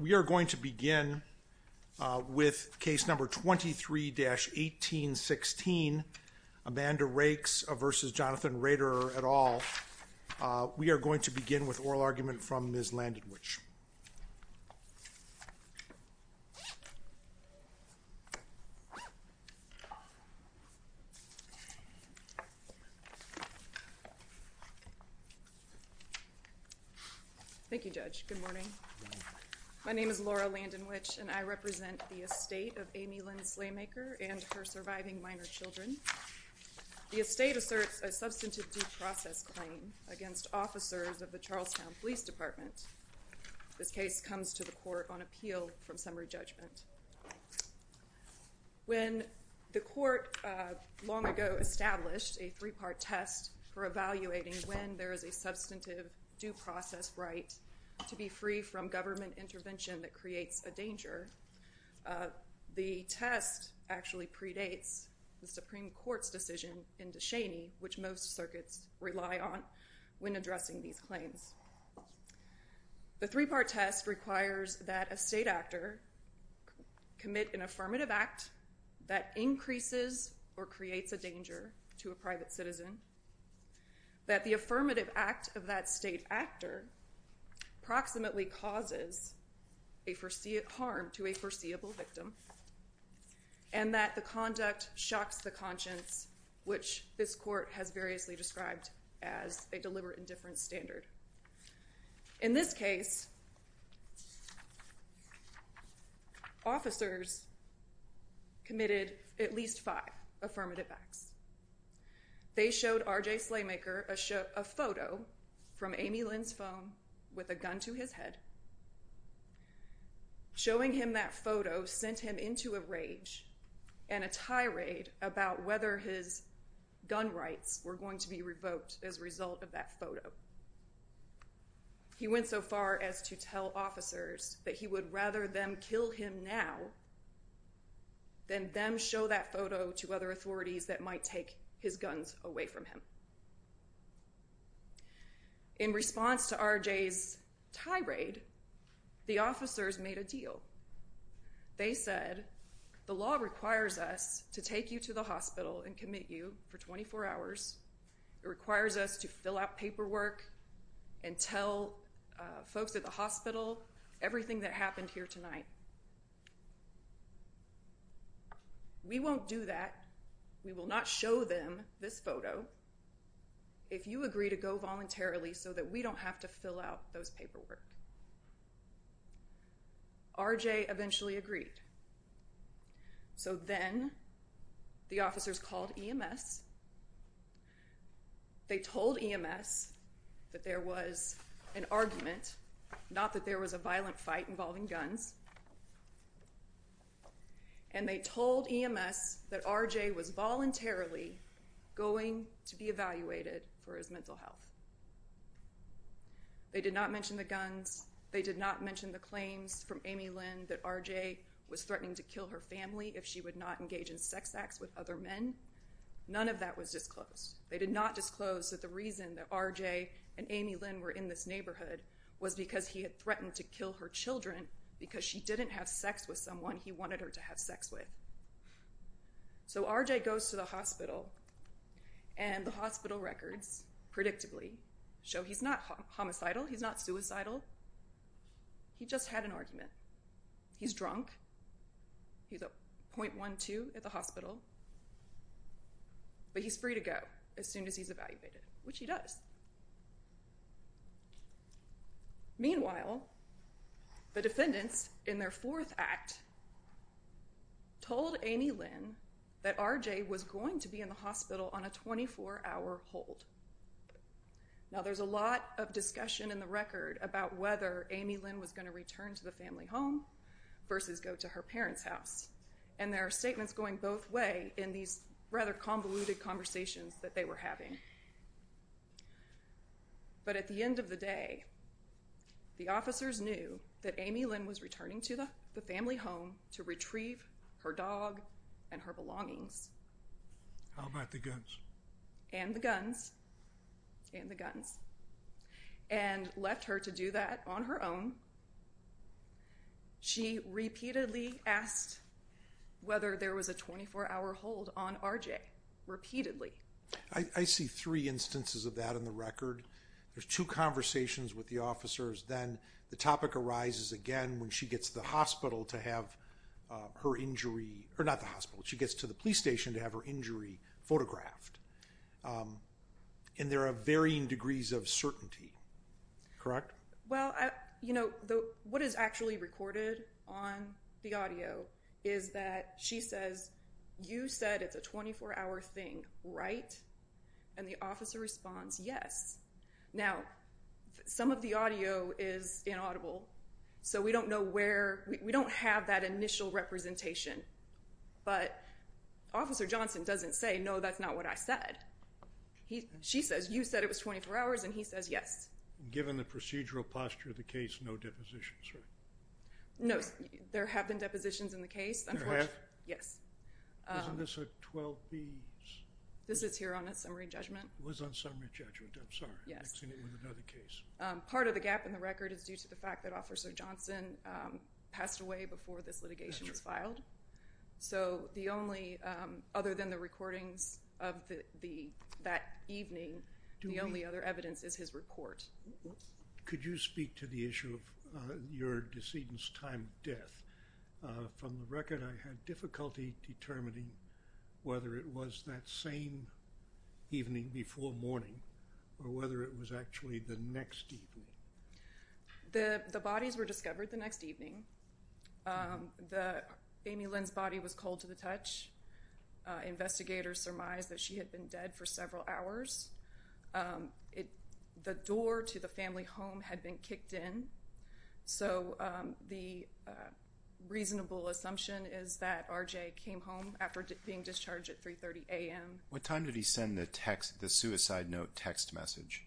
We are going to begin with case number 23-1816, Amanda Rakes v. Jonathan Roederer et al. We are going to begin with oral argument from Ms. Landedwich. Thank you, Judge. Good morning. My name is Laura Landedwich, and I represent the estate of Amy Lynn Slaymaker and her surviving minor children. The estate asserts a substantive due process claim against officers of the Charlestown Police Department. This case comes to the court on appeal from summary judgment. When the court long ago established a three-part test for evaluating when there is a substantive due process right to be free from government intervention that creates a danger, the test actually predates the Supreme Court's decision in De Cheney, which most circuits rely on when addressing these claims. The three-part test requires that a state actor commit an affirmative act that increases or creates a danger to a private citizen, that the affirmative act of that state actor proximately causes harm to a foreseeable victim, and that the conduct shocks the conscience, which this court has variously described as a deliberate indifference standard. In this case, officers committed at least five affirmative acts. They showed R.J. Slaymaker a photo from Amy Lynn's phone with a gun to his head. Showing him that photo sent him into a rage and a tirade about whether his gun rights were going to be revoked as a result of that photo. He went so far as to tell officers that he would rather them kill him now than them show that photo to other authorities that might take his guns away from him. In response to R.J.'s tirade, the officers made a deal. They said, the law requires us to take you to the hospital and commit you for 24 hours. It requires us to fill out paperwork and tell folks at the hospital everything that happened here tonight. We won't do that. We will not show them this photo if you agree to go voluntarily so that we don't have to fill out those paperwork. R.J. eventually agreed. So then the officers called EMS. They told EMS that there was an argument, not that there was a violent fight involving guns. And they told EMS that R.J. was voluntarily going to be evaluated for his mental health. They did not mention the guns. They did not mention the claims from Amy Lynn that R.J. was threatening to kill her family if she would not engage in sex acts with other men. None of that was disclosed. They did not disclose that the reason that R.J. and Amy Lynn were in this neighborhood was because he had threatened to kill her children because she didn't have sex with someone he wanted her to have sex with. So R.J. goes to the hospital and the hospital records, predictably, show he's not homicidal, he's not suicidal. He just had an argument. He's drunk. He's a .12 at the hospital, but he's free to go as soon as he's evaluated, which he does. Meanwhile, the defendants, in their fourth act, told Amy Lynn that R.J. was going to be in the hospital on a 24-hour hold. Now there's a lot of discussion in the record about whether Amy Lynn was going to return to the family home versus go to her parents' house. And there are statements going both ways in these rather convoluted conversations that But at the end of the day, the officers knew that Amy Lynn was returning to the family home to retrieve her dog and her belongings. How about the guns? And the guns. And the guns. And left her to do that on her own. She repeatedly asked whether there was a 24-hour hold on R.J. Repeatedly. I see three instances of that in the record. There's two conversations with the officers. Then the topic arises again when she gets to the police station to have her injury photographed. And there are varying degrees of certainty. Correct? Well, what is actually recorded on the audio is that she says, you said it's a 24-hour thing, right? And the officer responds, yes. Now, some of the audio is inaudible. So we don't know where, we don't have that initial representation. But Officer Johnson doesn't say, no, that's not what I said. She says, you said it was 24 hours. And he says, yes. Given the procedural posture of the case, no depositions, right? No, there have been depositions in the case. There have? Yes. Wasn't this a 12 days? This is here on a summary judgment. It was on summary judgment. I'm sorry. Yes. Mixing it with another case. Part of the gap in the record is due to the fact that Officer Johnson passed away before this litigation was filed. So the only, other than the recordings of that evening, the only other evidence is his report. Could you speak to the issue of your decedent's time death? From the record, I had difficulty determining whether it was that same evening before morning or whether it was actually the next evening. The bodies were discovered the next evening. Amy Lynn's body was cold to the touch. Investigators surmised that she had been dead for several hours. The door to the family home had been kicked in. So the reasonable assumption is that R.J. came home after being discharged at 3.30 a.m. What time did he send the suicide note text message?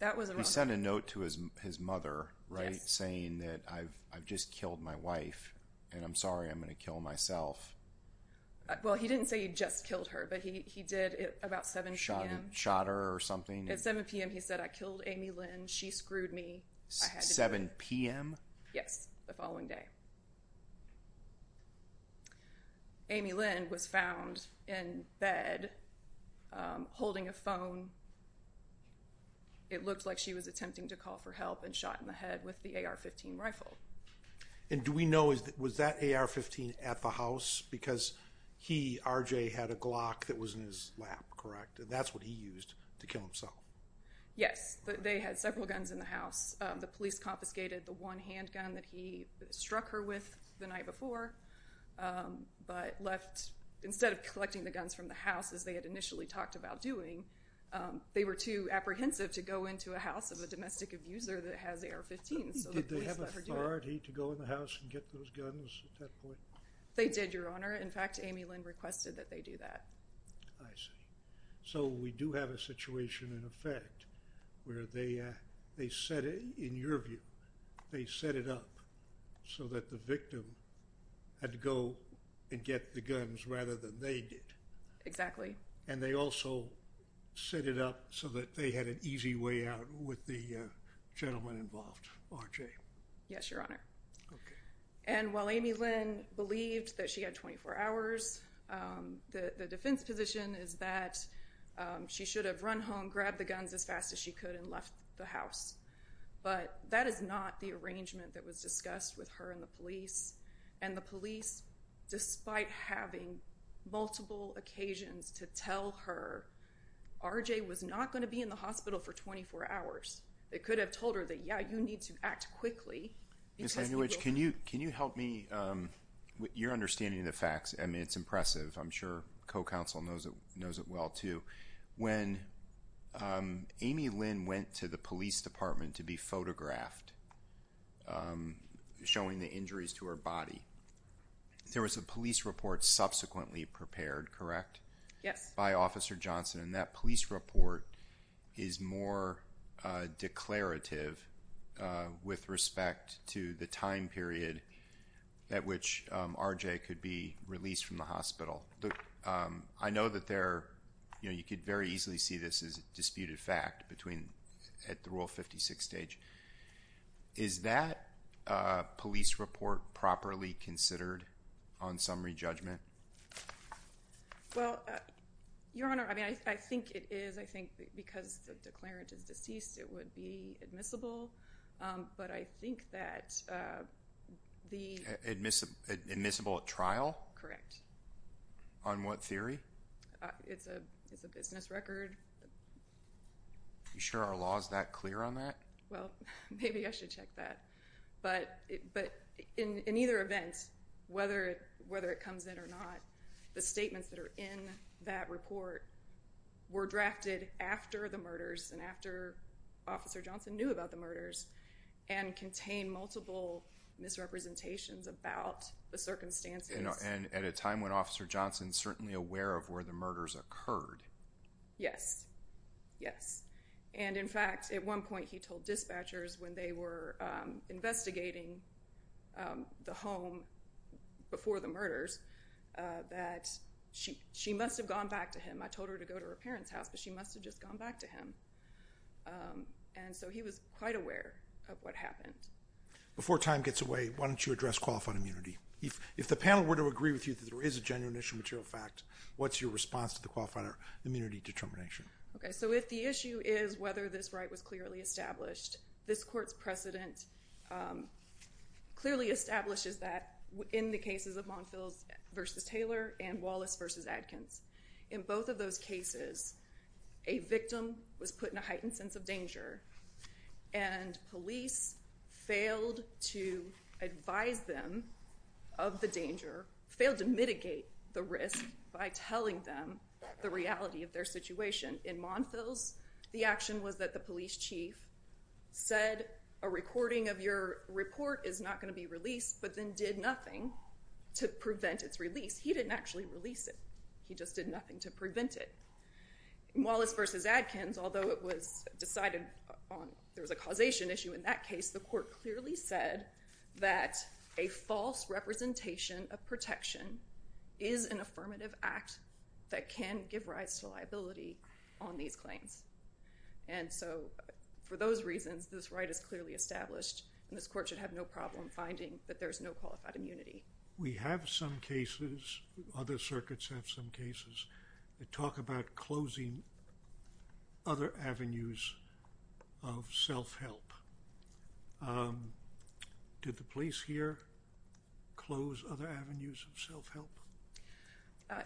That was around... He sent a note to his mother, right? Yes. Saying that I've just killed my wife and I'm sorry I'm going to kill myself. Well, he didn't say he just killed her, but he did at about 7 p.m. Shot her or something? At 7 p.m., he said, I killed Amy Lynn. She screwed me. 7 p.m.? Yes, the following day. Amy Lynn was found in bed holding a phone. It looked like she was attempting to call for help and shot in the head with the AR-15 rifle. And do we know, was that AR-15 at the house? Because he, R.J., had a Glock that was in his lap, correct? And that's what he used to kill himself. Yes, but they had several guns in the house. The police confiscated the one handgun that he struck her with the night before, but left, instead of collecting the guns from the house, as they had initially talked about doing, they were too apprehensive to go into a house of a domestic abuser that has AR-15s. Did they have authority to go in the house and get those guns at that point? They did, Your Honor. In fact, Amy Lynn requested that they do that. I see. So we do have a situation in effect where they set it, in your view, they set it up so that the victim had to go and get the guns rather than they did. Exactly. And they also set it up so that they had an easy way out with the gentleman involved, R.J. Yes, Your Honor. Okay. And while Amy Lynn believed that she had 24 hours, the defense position is that she should have run home, grabbed the guns as fast as she could, and left the house. But that is not the arrangement that was discussed with her and the police. And the police, despite having multiple occasions to tell her, R.J. was not going to be in the hospital for 24 hours. They could have told her that, yeah, you need to act quickly. Ms. Leibowitz, can you help me with your understanding of the facts? I mean, it's impressive. I'm sure co-counsel knows it well, too. When Amy Lynn went to the police department to be photographed, showing the injuries to her body, there was a police report subsequently prepared, correct? Yes. And that police report is more declarative with respect to the time period at which R.J. could be released from the hospital. I know that you could very easily see this as a disputed fact at the Rule 56 stage. Is that police report properly considered on summary judgment? Well, Your Honor, I mean, I think it is. I think because the declarant is deceased, it would be admissible. But I think that the— Admissible at trial? Correct. On what theory? It's a business record. Are you sure our law is that clear on that? Well, maybe I should check that. But in either event, whether it comes in or not, the statements that are in that report were drafted after the murders and after Officer Johnson knew about the murders and contain multiple misrepresentations about the circumstances. And at a time when Officer Johnson is certainly aware of where the murders occurred. Yes. Yes. And, in fact, at one point he told dispatchers when they were investigating the home before the murders that she must have gone back to him. I told her to go to her parents' house, but she must have just gone back to him. And so he was quite aware of what happened. Before time gets away, why don't you address qualified immunity? If the panel were to agree with you that there is a genuine issue of material fact, what's your response to the qualified immunity determination? Okay, so if the issue is whether this right was clearly established, this court's precedent clearly establishes that in the cases of Monfils v. Taylor and Wallace v. Adkins. In both of those cases, a victim was put in a heightened sense of danger, failed to mitigate the risk by telling them the reality of their situation. In Monfils, the action was that the police chief said, a recording of your report is not going to be released, but then did nothing to prevent its release. He didn't actually release it. He just did nothing to prevent it. In Wallace v. Adkins, although it was decided there was a causation issue in that case, the court clearly said that a false representation of protection is an affirmative act that can give rise to liability on these claims. And so for those reasons, this right is clearly established, and this court should have no problem finding that there's no qualified immunity. We have some cases, other circuits have some cases, that talk about closing other avenues of self-help. Did the police here close other avenues of self-help?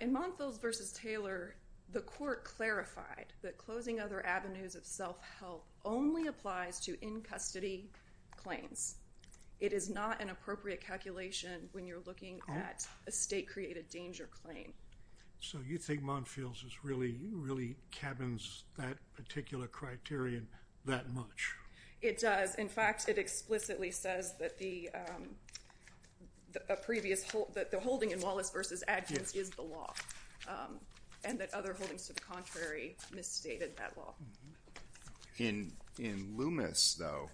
In Monfils v. Taylor, the court clarified that closing other avenues of self-help only applies to in-custody claims. It is not an appropriate calculation when you're looking at a state-created danger claim. So you think Monfils really cabins that particular criterion that much? It does. In fact, it explicitly says that the holding in Wallace v. Adkins is the law, and that other holdings to the contrary misstated that law. In Loomis, though,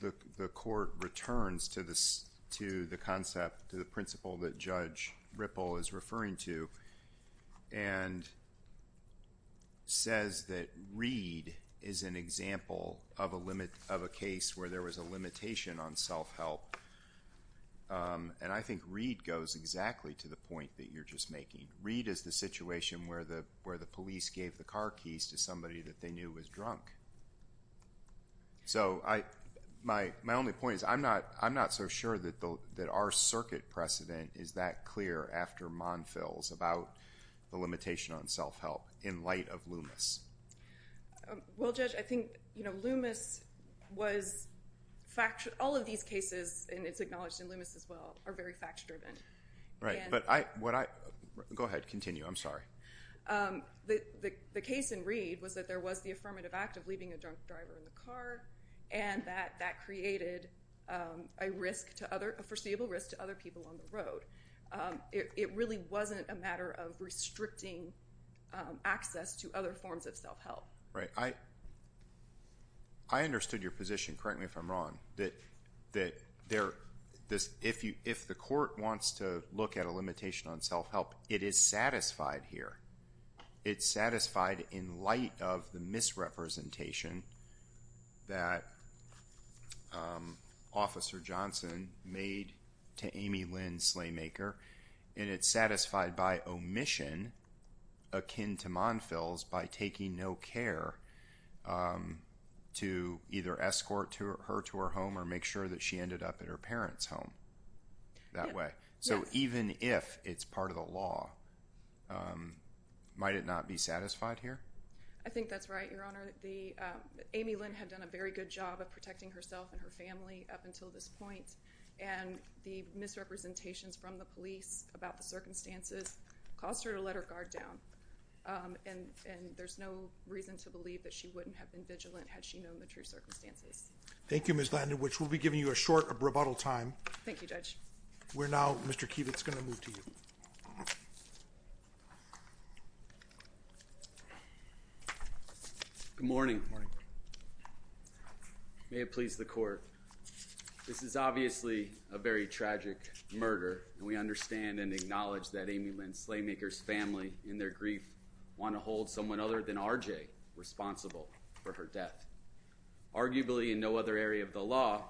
the court returns to the concept, to the principle that Judge Ripple is referring to, and says that Reed is an example of a case where there was a limitation on self-help. And I think Reed goes exactly to the point that you're just making. Reed is the situation where the police gave the car keys to somebody that they knew was drunk. So my only point is I'm not so sure that our circuit precedent is that clear after Monfils about the limitation on self-help in light of Loomis. Well, Judge, I think Loomis was factually—all of these cases, and it's acknowledged in Loomis as well, are very fact-driven. Right, but I—go ahead, continue. I'm sorry. The case in Reed was that there was the affirmative act of leaving a drunk driver in the car, and that that created a foreseeable risk to other people on the road. It really wasn't a matter of restricting access to other forms of self-help. Right. I understood your position correctly, if I'm wrong, that if the court wants to look at a limitation on self-help, it is satisfied here. It's satisfied in light of the misrepresentation that Officer Johnson made to Amy Lynn Slaymaker, and it's satisfied by omission akin to Monfils by taking no care to either escort her to her home or make sure that she ended up at her parents' home that way. So even if it's part of the law, might it not be satisfied here? I think that's right, Your Honor. Amy Lynn had done a very good job of protecting herself and her family up until this point, and the misrepresentations from the police about the circumstances caused her to let her guard down. And there's no reason to believe that she wouldn't have been vigilant had she known the true circumstances. Thank you, Ms. Landon, which will be giving you a short rebuttal time. Thank you, Judge. We're now, Mr. Kivitz, going to move to you. Good morning. May it please the court. This is obviously a very tragic murder, and we understand and acknowledge that Amy Lynn Slaymaker's family, in their grief, want to hold someone other than R.J. responsible for her death. Arguably, in no other area of the law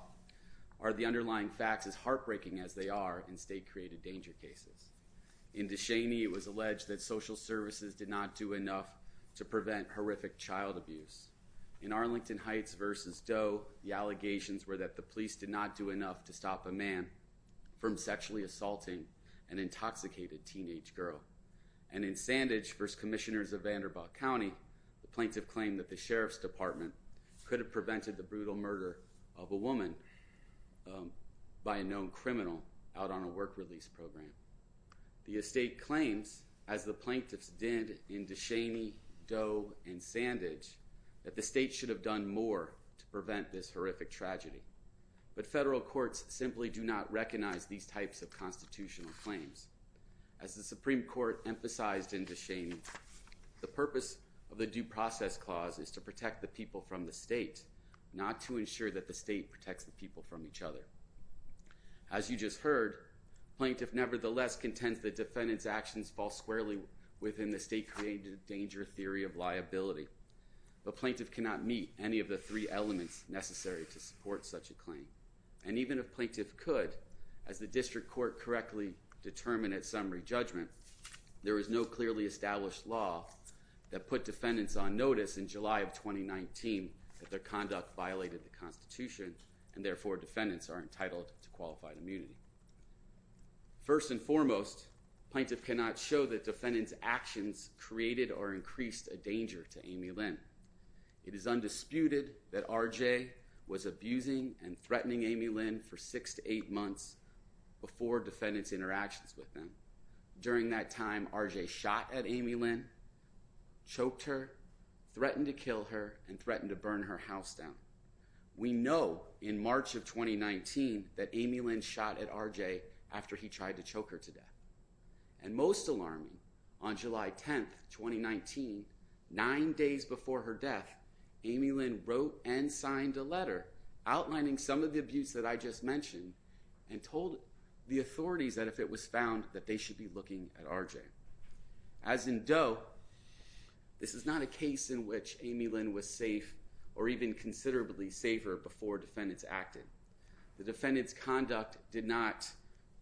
are the underlying facts as heartbreaking as they are in state-created danger cases. In Descheny, it was alleged that social services did not do enough to prevent horrific child abuse. In Arlington Heights v. Doe, the allegations were that the police did not do enough to stop a man from sexually assaulting an intoxicated teenage girl. And in Sandage v. Commissioners of Vanderbilt County, the plaintiff claimed that the sheriff's department could have prevented the brutal murder of a woman by a known criminal out on a work-release program. The estate claims, as the plaintiffs did in Descheny, Doe, and Sandage, that the state should have done more to prevent this horrific tragedy. But federal courts simply do not recognize these types of constitutional claims. As the Supreme Court emphasized in Descheny, the purpose of the Due Process Clause is to protect the people from the state, not to ensure that the state protects the people from each other. As you just heard, plaintiff nevertheless contends that defendants' actions fall squarely within the state-created danger theory of liability. But plaintiff cannot meet any of the three elements necessary to support such a claim. And even if plaintiff could, as the district court correctly determined at summary judgment, there is no clearly established law that put defendants on notice in July of 2019 that their conduct violated the Constitution, and therefore defendants are entitled to qualified immunity. First and foremost, plaintiff cannot show that defendants' actions created or increased a danger to Amy Lynn. It is undisputed that R.J. was abusing and threatening Amy Lynn for six to eight months before defendants' interactions with them. During that time, R.J. shot at Amy Lynn, choked her, threatened to kill her, and threatened to burn her house down. We know in March of 2019 that Amy Lynn shot at R.J. after he tried to choke her to death. And most alarming, on July 10, 2019, nine days before her death, Amy Lynn wrote and signed a letter outlining some of the abuse that I just mentioned and told the authorities that if it was found, that they should be looking at R.J. As in Doe, this is not a case in which Amy Lynn was safe or even considerably safer before defendants acted. The defendants' conduct did not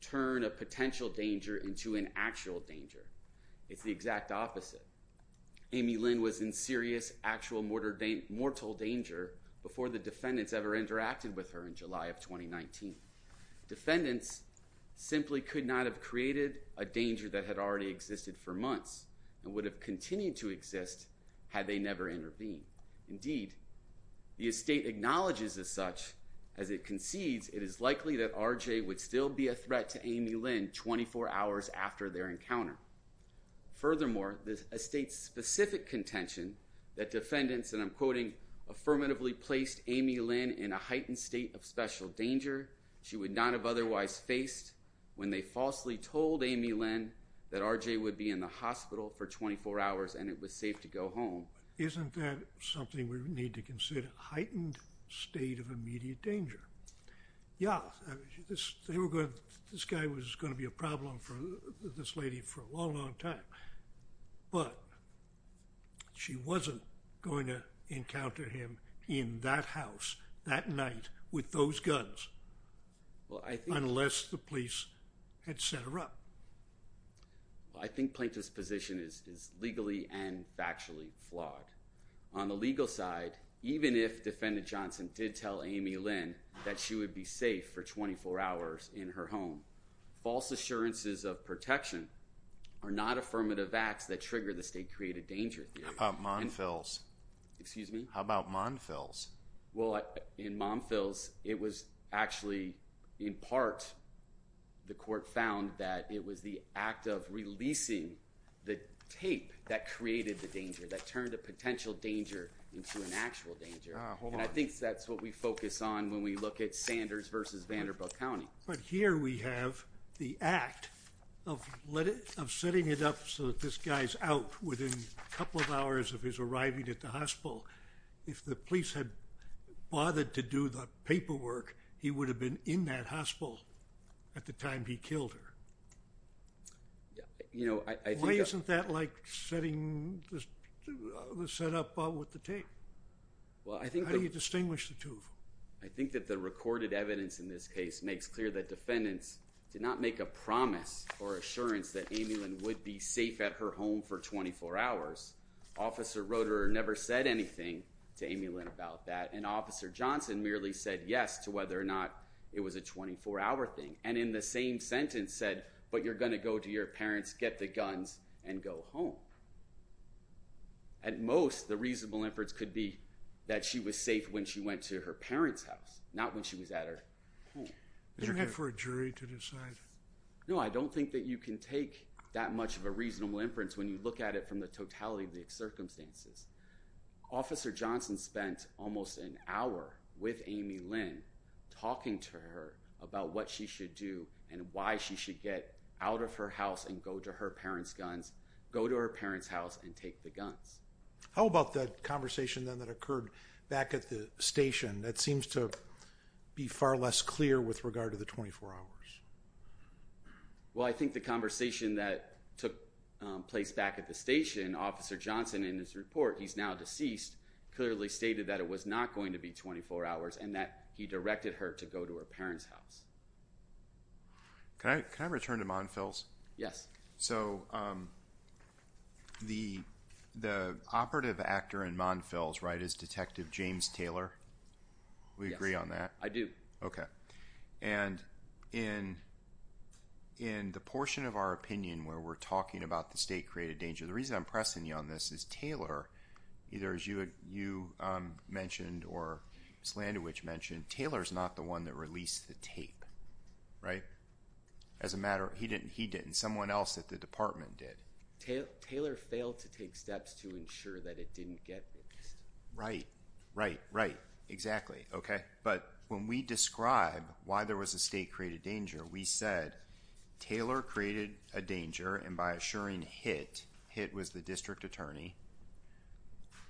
turn a potential danger into an actual danger. It's the exact opposite. Amy Lynn was in serious, actual mortal danger before the defendants ever interacted with her in July of 2019. Defendants simply could not have created a danger that had already existed for months and would have continued to exist had they never intervened. Indeed, the estate acknowledges as such, as it concedes, it is likely that R.J. would still be a threat to Amy Lynn 24 hours after their encounter. Furthermore, the estate's specific contention that defendants, and I'm quoting, affirmatively placed Amy Lynn in a heightened state of special danger she would not have otherwise faced when they falsely told Amy Lynn that R.J. would be in the hospital for 24 hours and it was safe to go home. Isn't that something we need to consider? Heightened state of immediate danger. Yeah, this guy was going to be a problem for this lady for a long, long time. But she wasn't going to encounter him in that house that night with those guns unless the police had set her up. I think Plaintiff's position is legally and factually flawed. On the legal side, even if Defendant Johnson did tell Amy Lynn that she would be safe for 24 hours in her home, false assurances of protection are not affirmative acts that trigger the state created danger. How about mom fills? Excuse me? How about mom fills? Well, in mom fills, it was actually in part the court found that it was the act of releasing the tape that created the danger, that turned a potential danger into an actual danger. And I think that's what we focus on when we look at Sanders versus Vanderbilt County. But here we have the act of setting it up so that this guy's out within a couple of hours of his arriving at the hospital. If the police had bothered to do the paperwork, he would have been in that hospital at the time he killed her. Why isn't that like setting the setup up with the tape? How do you distinguish the two? I think that the recorded evidence in this case makes clear that defendants did not make a promise or assurance that Amy Lynn would be safe at her home for 24 hours. Officer Roederer never said anything to Amy Lynn about that. And Officer Johnson merely said yes to whether or not it was a 24-hour thing. And in the same sentence said, but you're going to go to your parents, get the guns, and go home. At most, the reasonable inference could be that she was safe when she went to her parents' house, not when she was at her home. Did you have for a jury to decide? No, I don't think that you can take that much of a reasonable inference when you look at it from the totality of the circumstances. Officer Johnson spent almost an hour with Amy Lynn talking to her about what she should do and why she should get out of her house and go to her parents' house and take the guns. How about the conversation then that occurred back at the station? That seems to be far less clear with regard to the 24 hours. Well, I think the conversation that took place back at the station, Officer Johnson in his report, he's now deceased, clearly stated that it was not going to be 24 hours and that he directed her to go to her parents' house. Can I return to Monfils? Yes. So, the operative actor in Monfils, right, is Detective James Taylor. Yes. Do we agree on that? I do. Okay. And in the portion of our opinion where we're talking about the state-created danger, the reason I'm pressing you on this is Taylor, either as you mentioned or Slandovich mentioned, Taylor's not the one that released the tape, right? As a matter of fact, he didn't. Someone else at the department did. Taylor failed to take steps to ensure that it didn't get released. Right. Right. Right. Exactly. Okay. But when we describe why there was a state-created danger, we said Taylor created a danger, and by assuring Hitt, Hitt was the district attorney,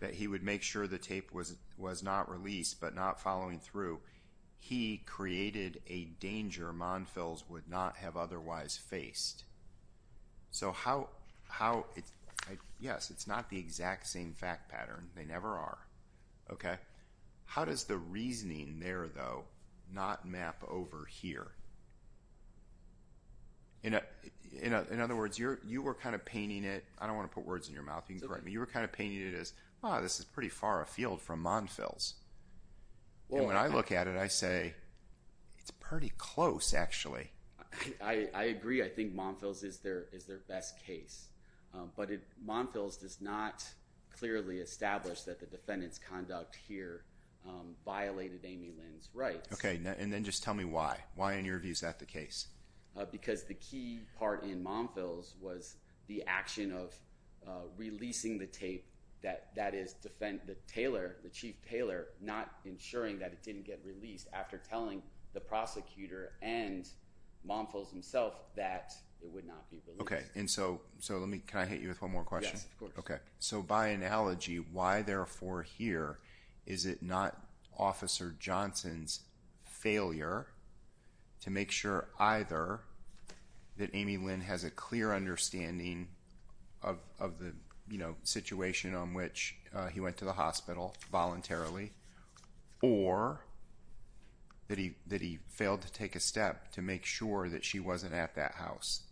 that he would make sure the tape was not released but not following through. So, he created a danger Monfils would not have otherwise faced. So, yes, it's not the exact same fact pattern. They never are. Okay. How does the reasoning there, though, not map over here? In other words, you were kind of painting it. I don't want to put words in your mouth. You can correct me. You were kind of painting it as, ah, this is pretty far afield from Monfils. And when I look at it, I say, it's pretty close, actually. I agree. I think Monfils is their best case. But Monfils does not clearly establish that the defendant's conduct here violated Amy Lynn's rights. Okay. And then just tell me why. Why, in your view, is that the case? Because the key part in Monfils was the action of releasing the tape. That is, the chief tailor not ensuring that it didn't get released after telling the prosecutor and Monfils himself that it would not be released. Okay. So, can I hit you with one more question? Yes, of course. Okay. So, by analogy, why, therefore, here, is it not Officer Johnson's failure to make sure either that Amy Lynn has a clear understanding of the situation on which he went to the hospital voluntarily, or that he failed to take a step to make sure that she wasn't at that house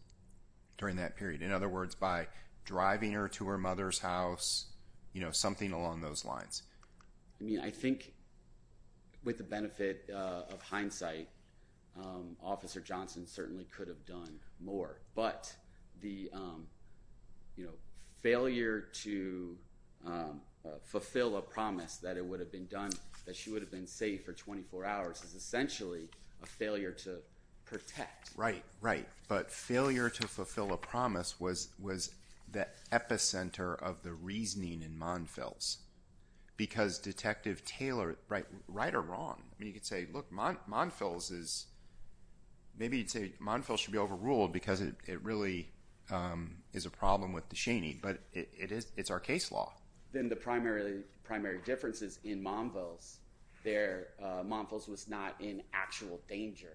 during that period? In other words, by driving her to her mother's house, you know, something along those lines. I mean, I think with the benefit of hindsight, Officer Johnson certainly could have done more. But the, you know, failure to fulfill a promise that it would have been done, that she would have been safe for 24 hours, is essentially a failure to protect. Right, right. But failure to fulfill a promise was the epicenter of the reasoning in Monfils. Because Detective Taylor – right or wrong? I mean, you could say, look, Monfils is – maybe you'd say Monfils should be overruled because it really is a problem with the Cheney. But it's our case law. Then the primary difference is in Monfils, Monfils was not in actual danger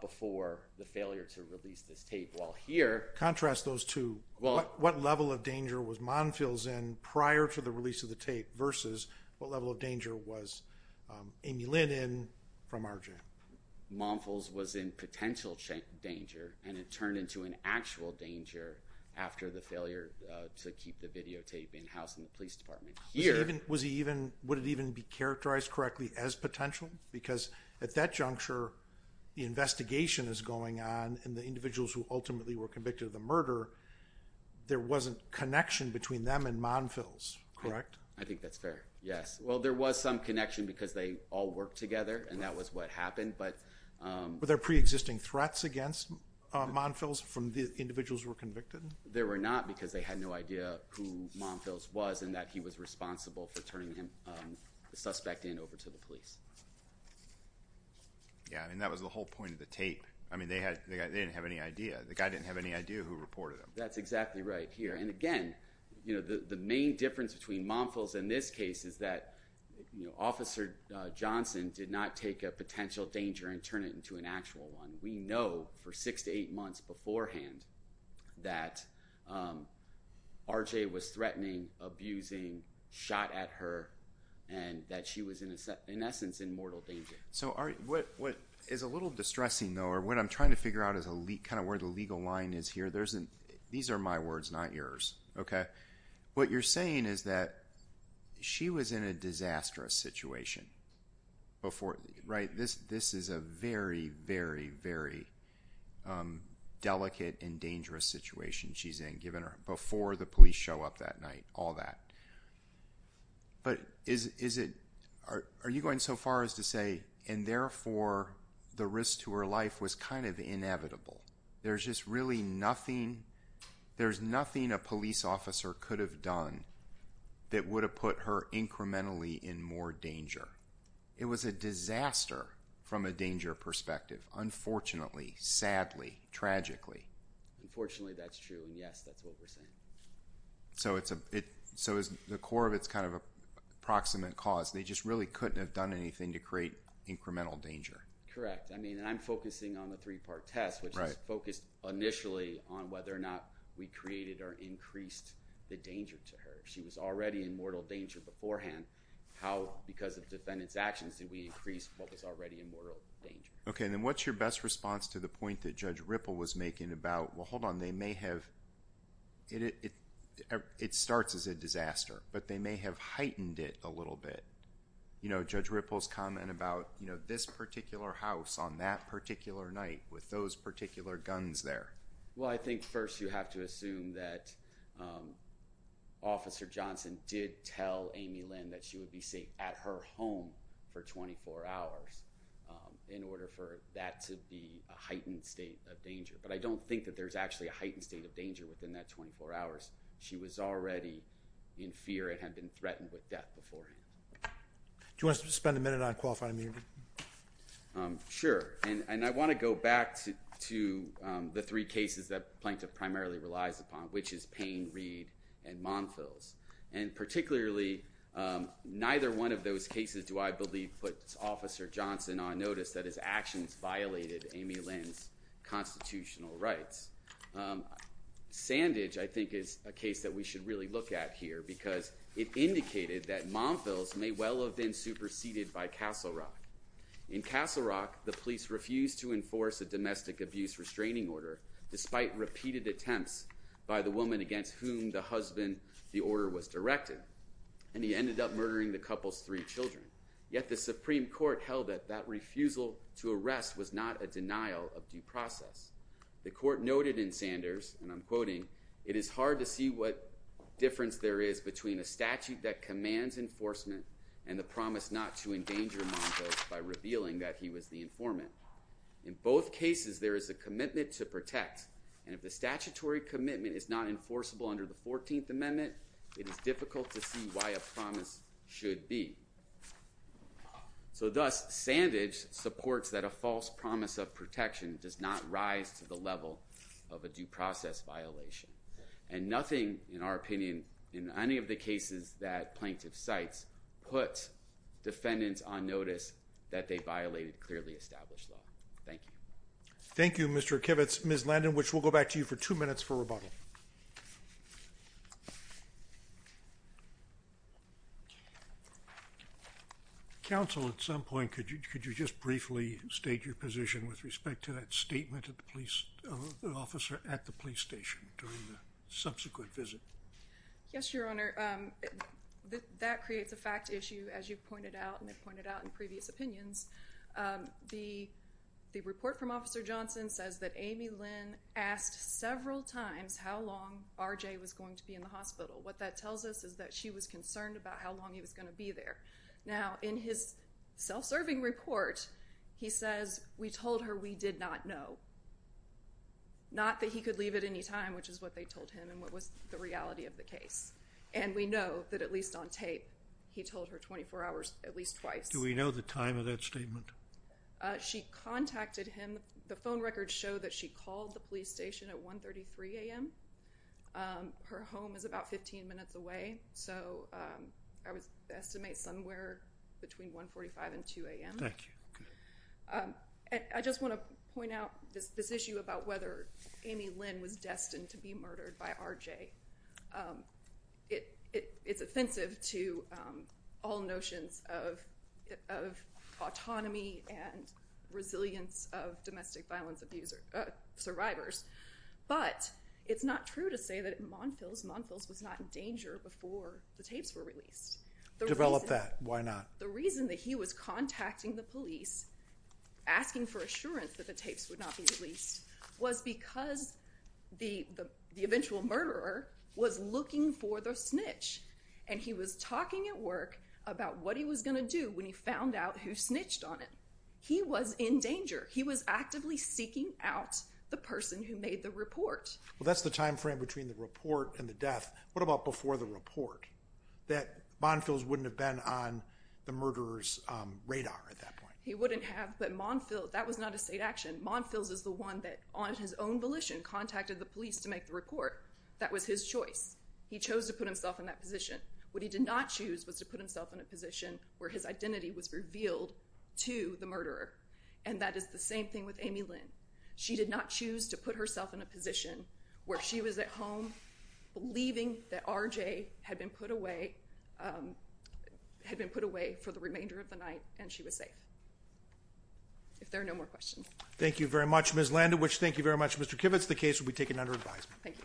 before the failure to release this tape. While here – Contrast those two. What level of danger was Monfils in prior to the release of the tape versus what level of danger was Amy Lynn in from our jam? Monfils was in potential danger, and it turned into an actual danger after the failure to keep the videotape in-house in the police department. Was he even – would it even be characterized correctly as potential? Because at that juncture, the investigation is going on, and the individuals who ultimately were convicted of the murder, there wasn't connection between them and Monfils, correct? I think that's fair, yes. Well, there was some connection because they all worked together, and that was what happened. But – Were there preexisting threats against Monfils from the individuals who were convicted? There were not because they had no idea who Monfils was and that he was responsible for turning the suspect in over to the police. Yeah, and that was the whole point of the tape. I mean, they didn't have any idea. The guy didn't have any idea who reported him. That's exactly right here. And again, the main difference between Monfils and this case is that Officer Johnson did not take a potential danger and turn it into an actual one. We know for six to eight months beforehand that R.J. was threatening, abusing, shot at her, and that she was, in essence, in mortal danger. So what is a little distressing, though, or what I'm trying to figure out is kind of where the legal line is here. These are my words, not yours, okay? What you're saying is that she was in a disastrous situation before – right? This is a very, very, very delicate and dangerous situation she's in, given her – before the police show up that night, all that. But is it – are you going so far as to say, and therefore, the risk to her life was kind of inevitable? There's just really nothing – there's nothing a police officer could have done that would have put her incrementally in more danger. It was a disaster from a danger perspective, unfortunately, sadly, tragically. Unfortunately, that's true, and yes, that's what we're saying. So it's a – so the core of it's kind of a proximate cause. They just really couldn't have done anything to create incremental danger. Correct. I mean, and I'm focusing on the three-part test, which is focused initially on whether or not we created or increased the danger to her. She was already in mortal danger beforehand. How, because of the defendant's actions, did we increase what was already in mortal danger? Okay, and then what's your best response to the point that Judge Ripple was making about – well, hold on. They may have – it starts as a disaster, but they may have heightened it a little bit. You know, Judge Ripple's comment about this particular house on that particular night with those particular guns there. Well, I think first you have to assume that Officer Johnson did tell Amy Lynn that she would be safe at her home for 24 hours in order for that to be a heightened state of danger. But I don't think that there's actually a heightened state of danger within that 24 hours. She was already in fear and had been threatened with death beforehand. Do you want us to spend a minute on qualifying immunity? Sure, and I want to go back to the three cases that the plaintiff primarily relies upon, which is Payne, Reed, and Monfils. And particularly, neither one of those cases do I believe puts Officer Johnson on notice that his actions violated Amy Lynn's constitutional rights. Sandage, I think, is a case that we should really look at here because it indicated that Monfils may well have been superseded by Castle Rock. In Castle Rock, the police refused to enforce a domestic abuse restraining order despite repeated attempts by the woman against whom the husband the order was directed. And he ended up murdering the couple's three children. Yet the Supreme Court held that that refusal to arrest was not a denial of due process. The court noted in Sanders, and I'm quoting, It is hard to see what difference there is between a statute that commands enforcement and the promise not to endanger Monfils by revealing that he was the informant. In both cases, there is a commitment to protect. And if the statutory commitment is not enforceable under the 14th Amendment, it is difficult to see why a promise should be. So thus, Sandage supports that a false promise of protection does not rise to the level of a due process violation. And nothing, in our opinion, in any of the cases that plaintiff cites put defendants on notice that they violated clearly established law. Thank you. Thank you, Mr. Kivitz. Ms. Landon, which will go back to you for two minutes for rebuttal. Counsel, at some point, could you just briefly state your position with respect to that statement of the police officer at the police station during the subsequent visit? Yes, Your Honor. That creates a fact issue, as you pointed out and pointed out in previous opinions. The report from Officer Johnson says that Amy Lynn asked several times how long R.J. was going to be in the hospital. What that tells us is that she was concerned about how long he was going to be there. Now, in his self-serving report, he says, we told her we did not know. Not that he could leave at any time, which is what they told him and what was the reality of the case. And we know that at least on tape, he told her 24 hours at least twice. Do we know the time of that statement? She contacted him. The phone records show that she called the police station at 1.33 a.m. Her home is about 15 minutes away, so I would estimate somewhere between 1.45 and 2 a.m. Thank you. I just want to point out this issue about whether Amy Lynn was destined to be murdered by R.J. It's offensive to all notions of autonomy and resilience of domestic violence survivors. But it's not true to say that Monfils was not in danger before the tapes were released. Develop that. Why not? The reason that he was contacting the police, asking for assurance that the tapes would not be released, was because the eventual murderer was looking for the snitch. And he was talking at work about what he was going to do when he found out who snitched on him. He was in danger. He was actively seeking out the person who made the report. Well, that's the time frame between the report and the death. What about before the report? That Monfils wouldn't have been on the murderer's radar at that point. He wouldn't have, but that was not a state action. Monfils is the one that, on his own volition, contacted the police to make the report. That was his choice. He chose to put himself in that position. What he did not choose was to put himself in a position where his identity was revealed to the murderer. And that is the same thing with Amy Lynn. She did not choose to put herself in a position where she was at home, believing that R.J. had been put away for the remainder of the night and she was safe. If there are no more questions. Thank you very much, Ms. Landowich. Thank you very much, Mr. Kivitz. The case will be taken under advisement. Thank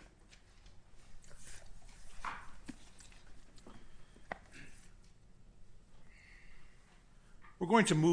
you.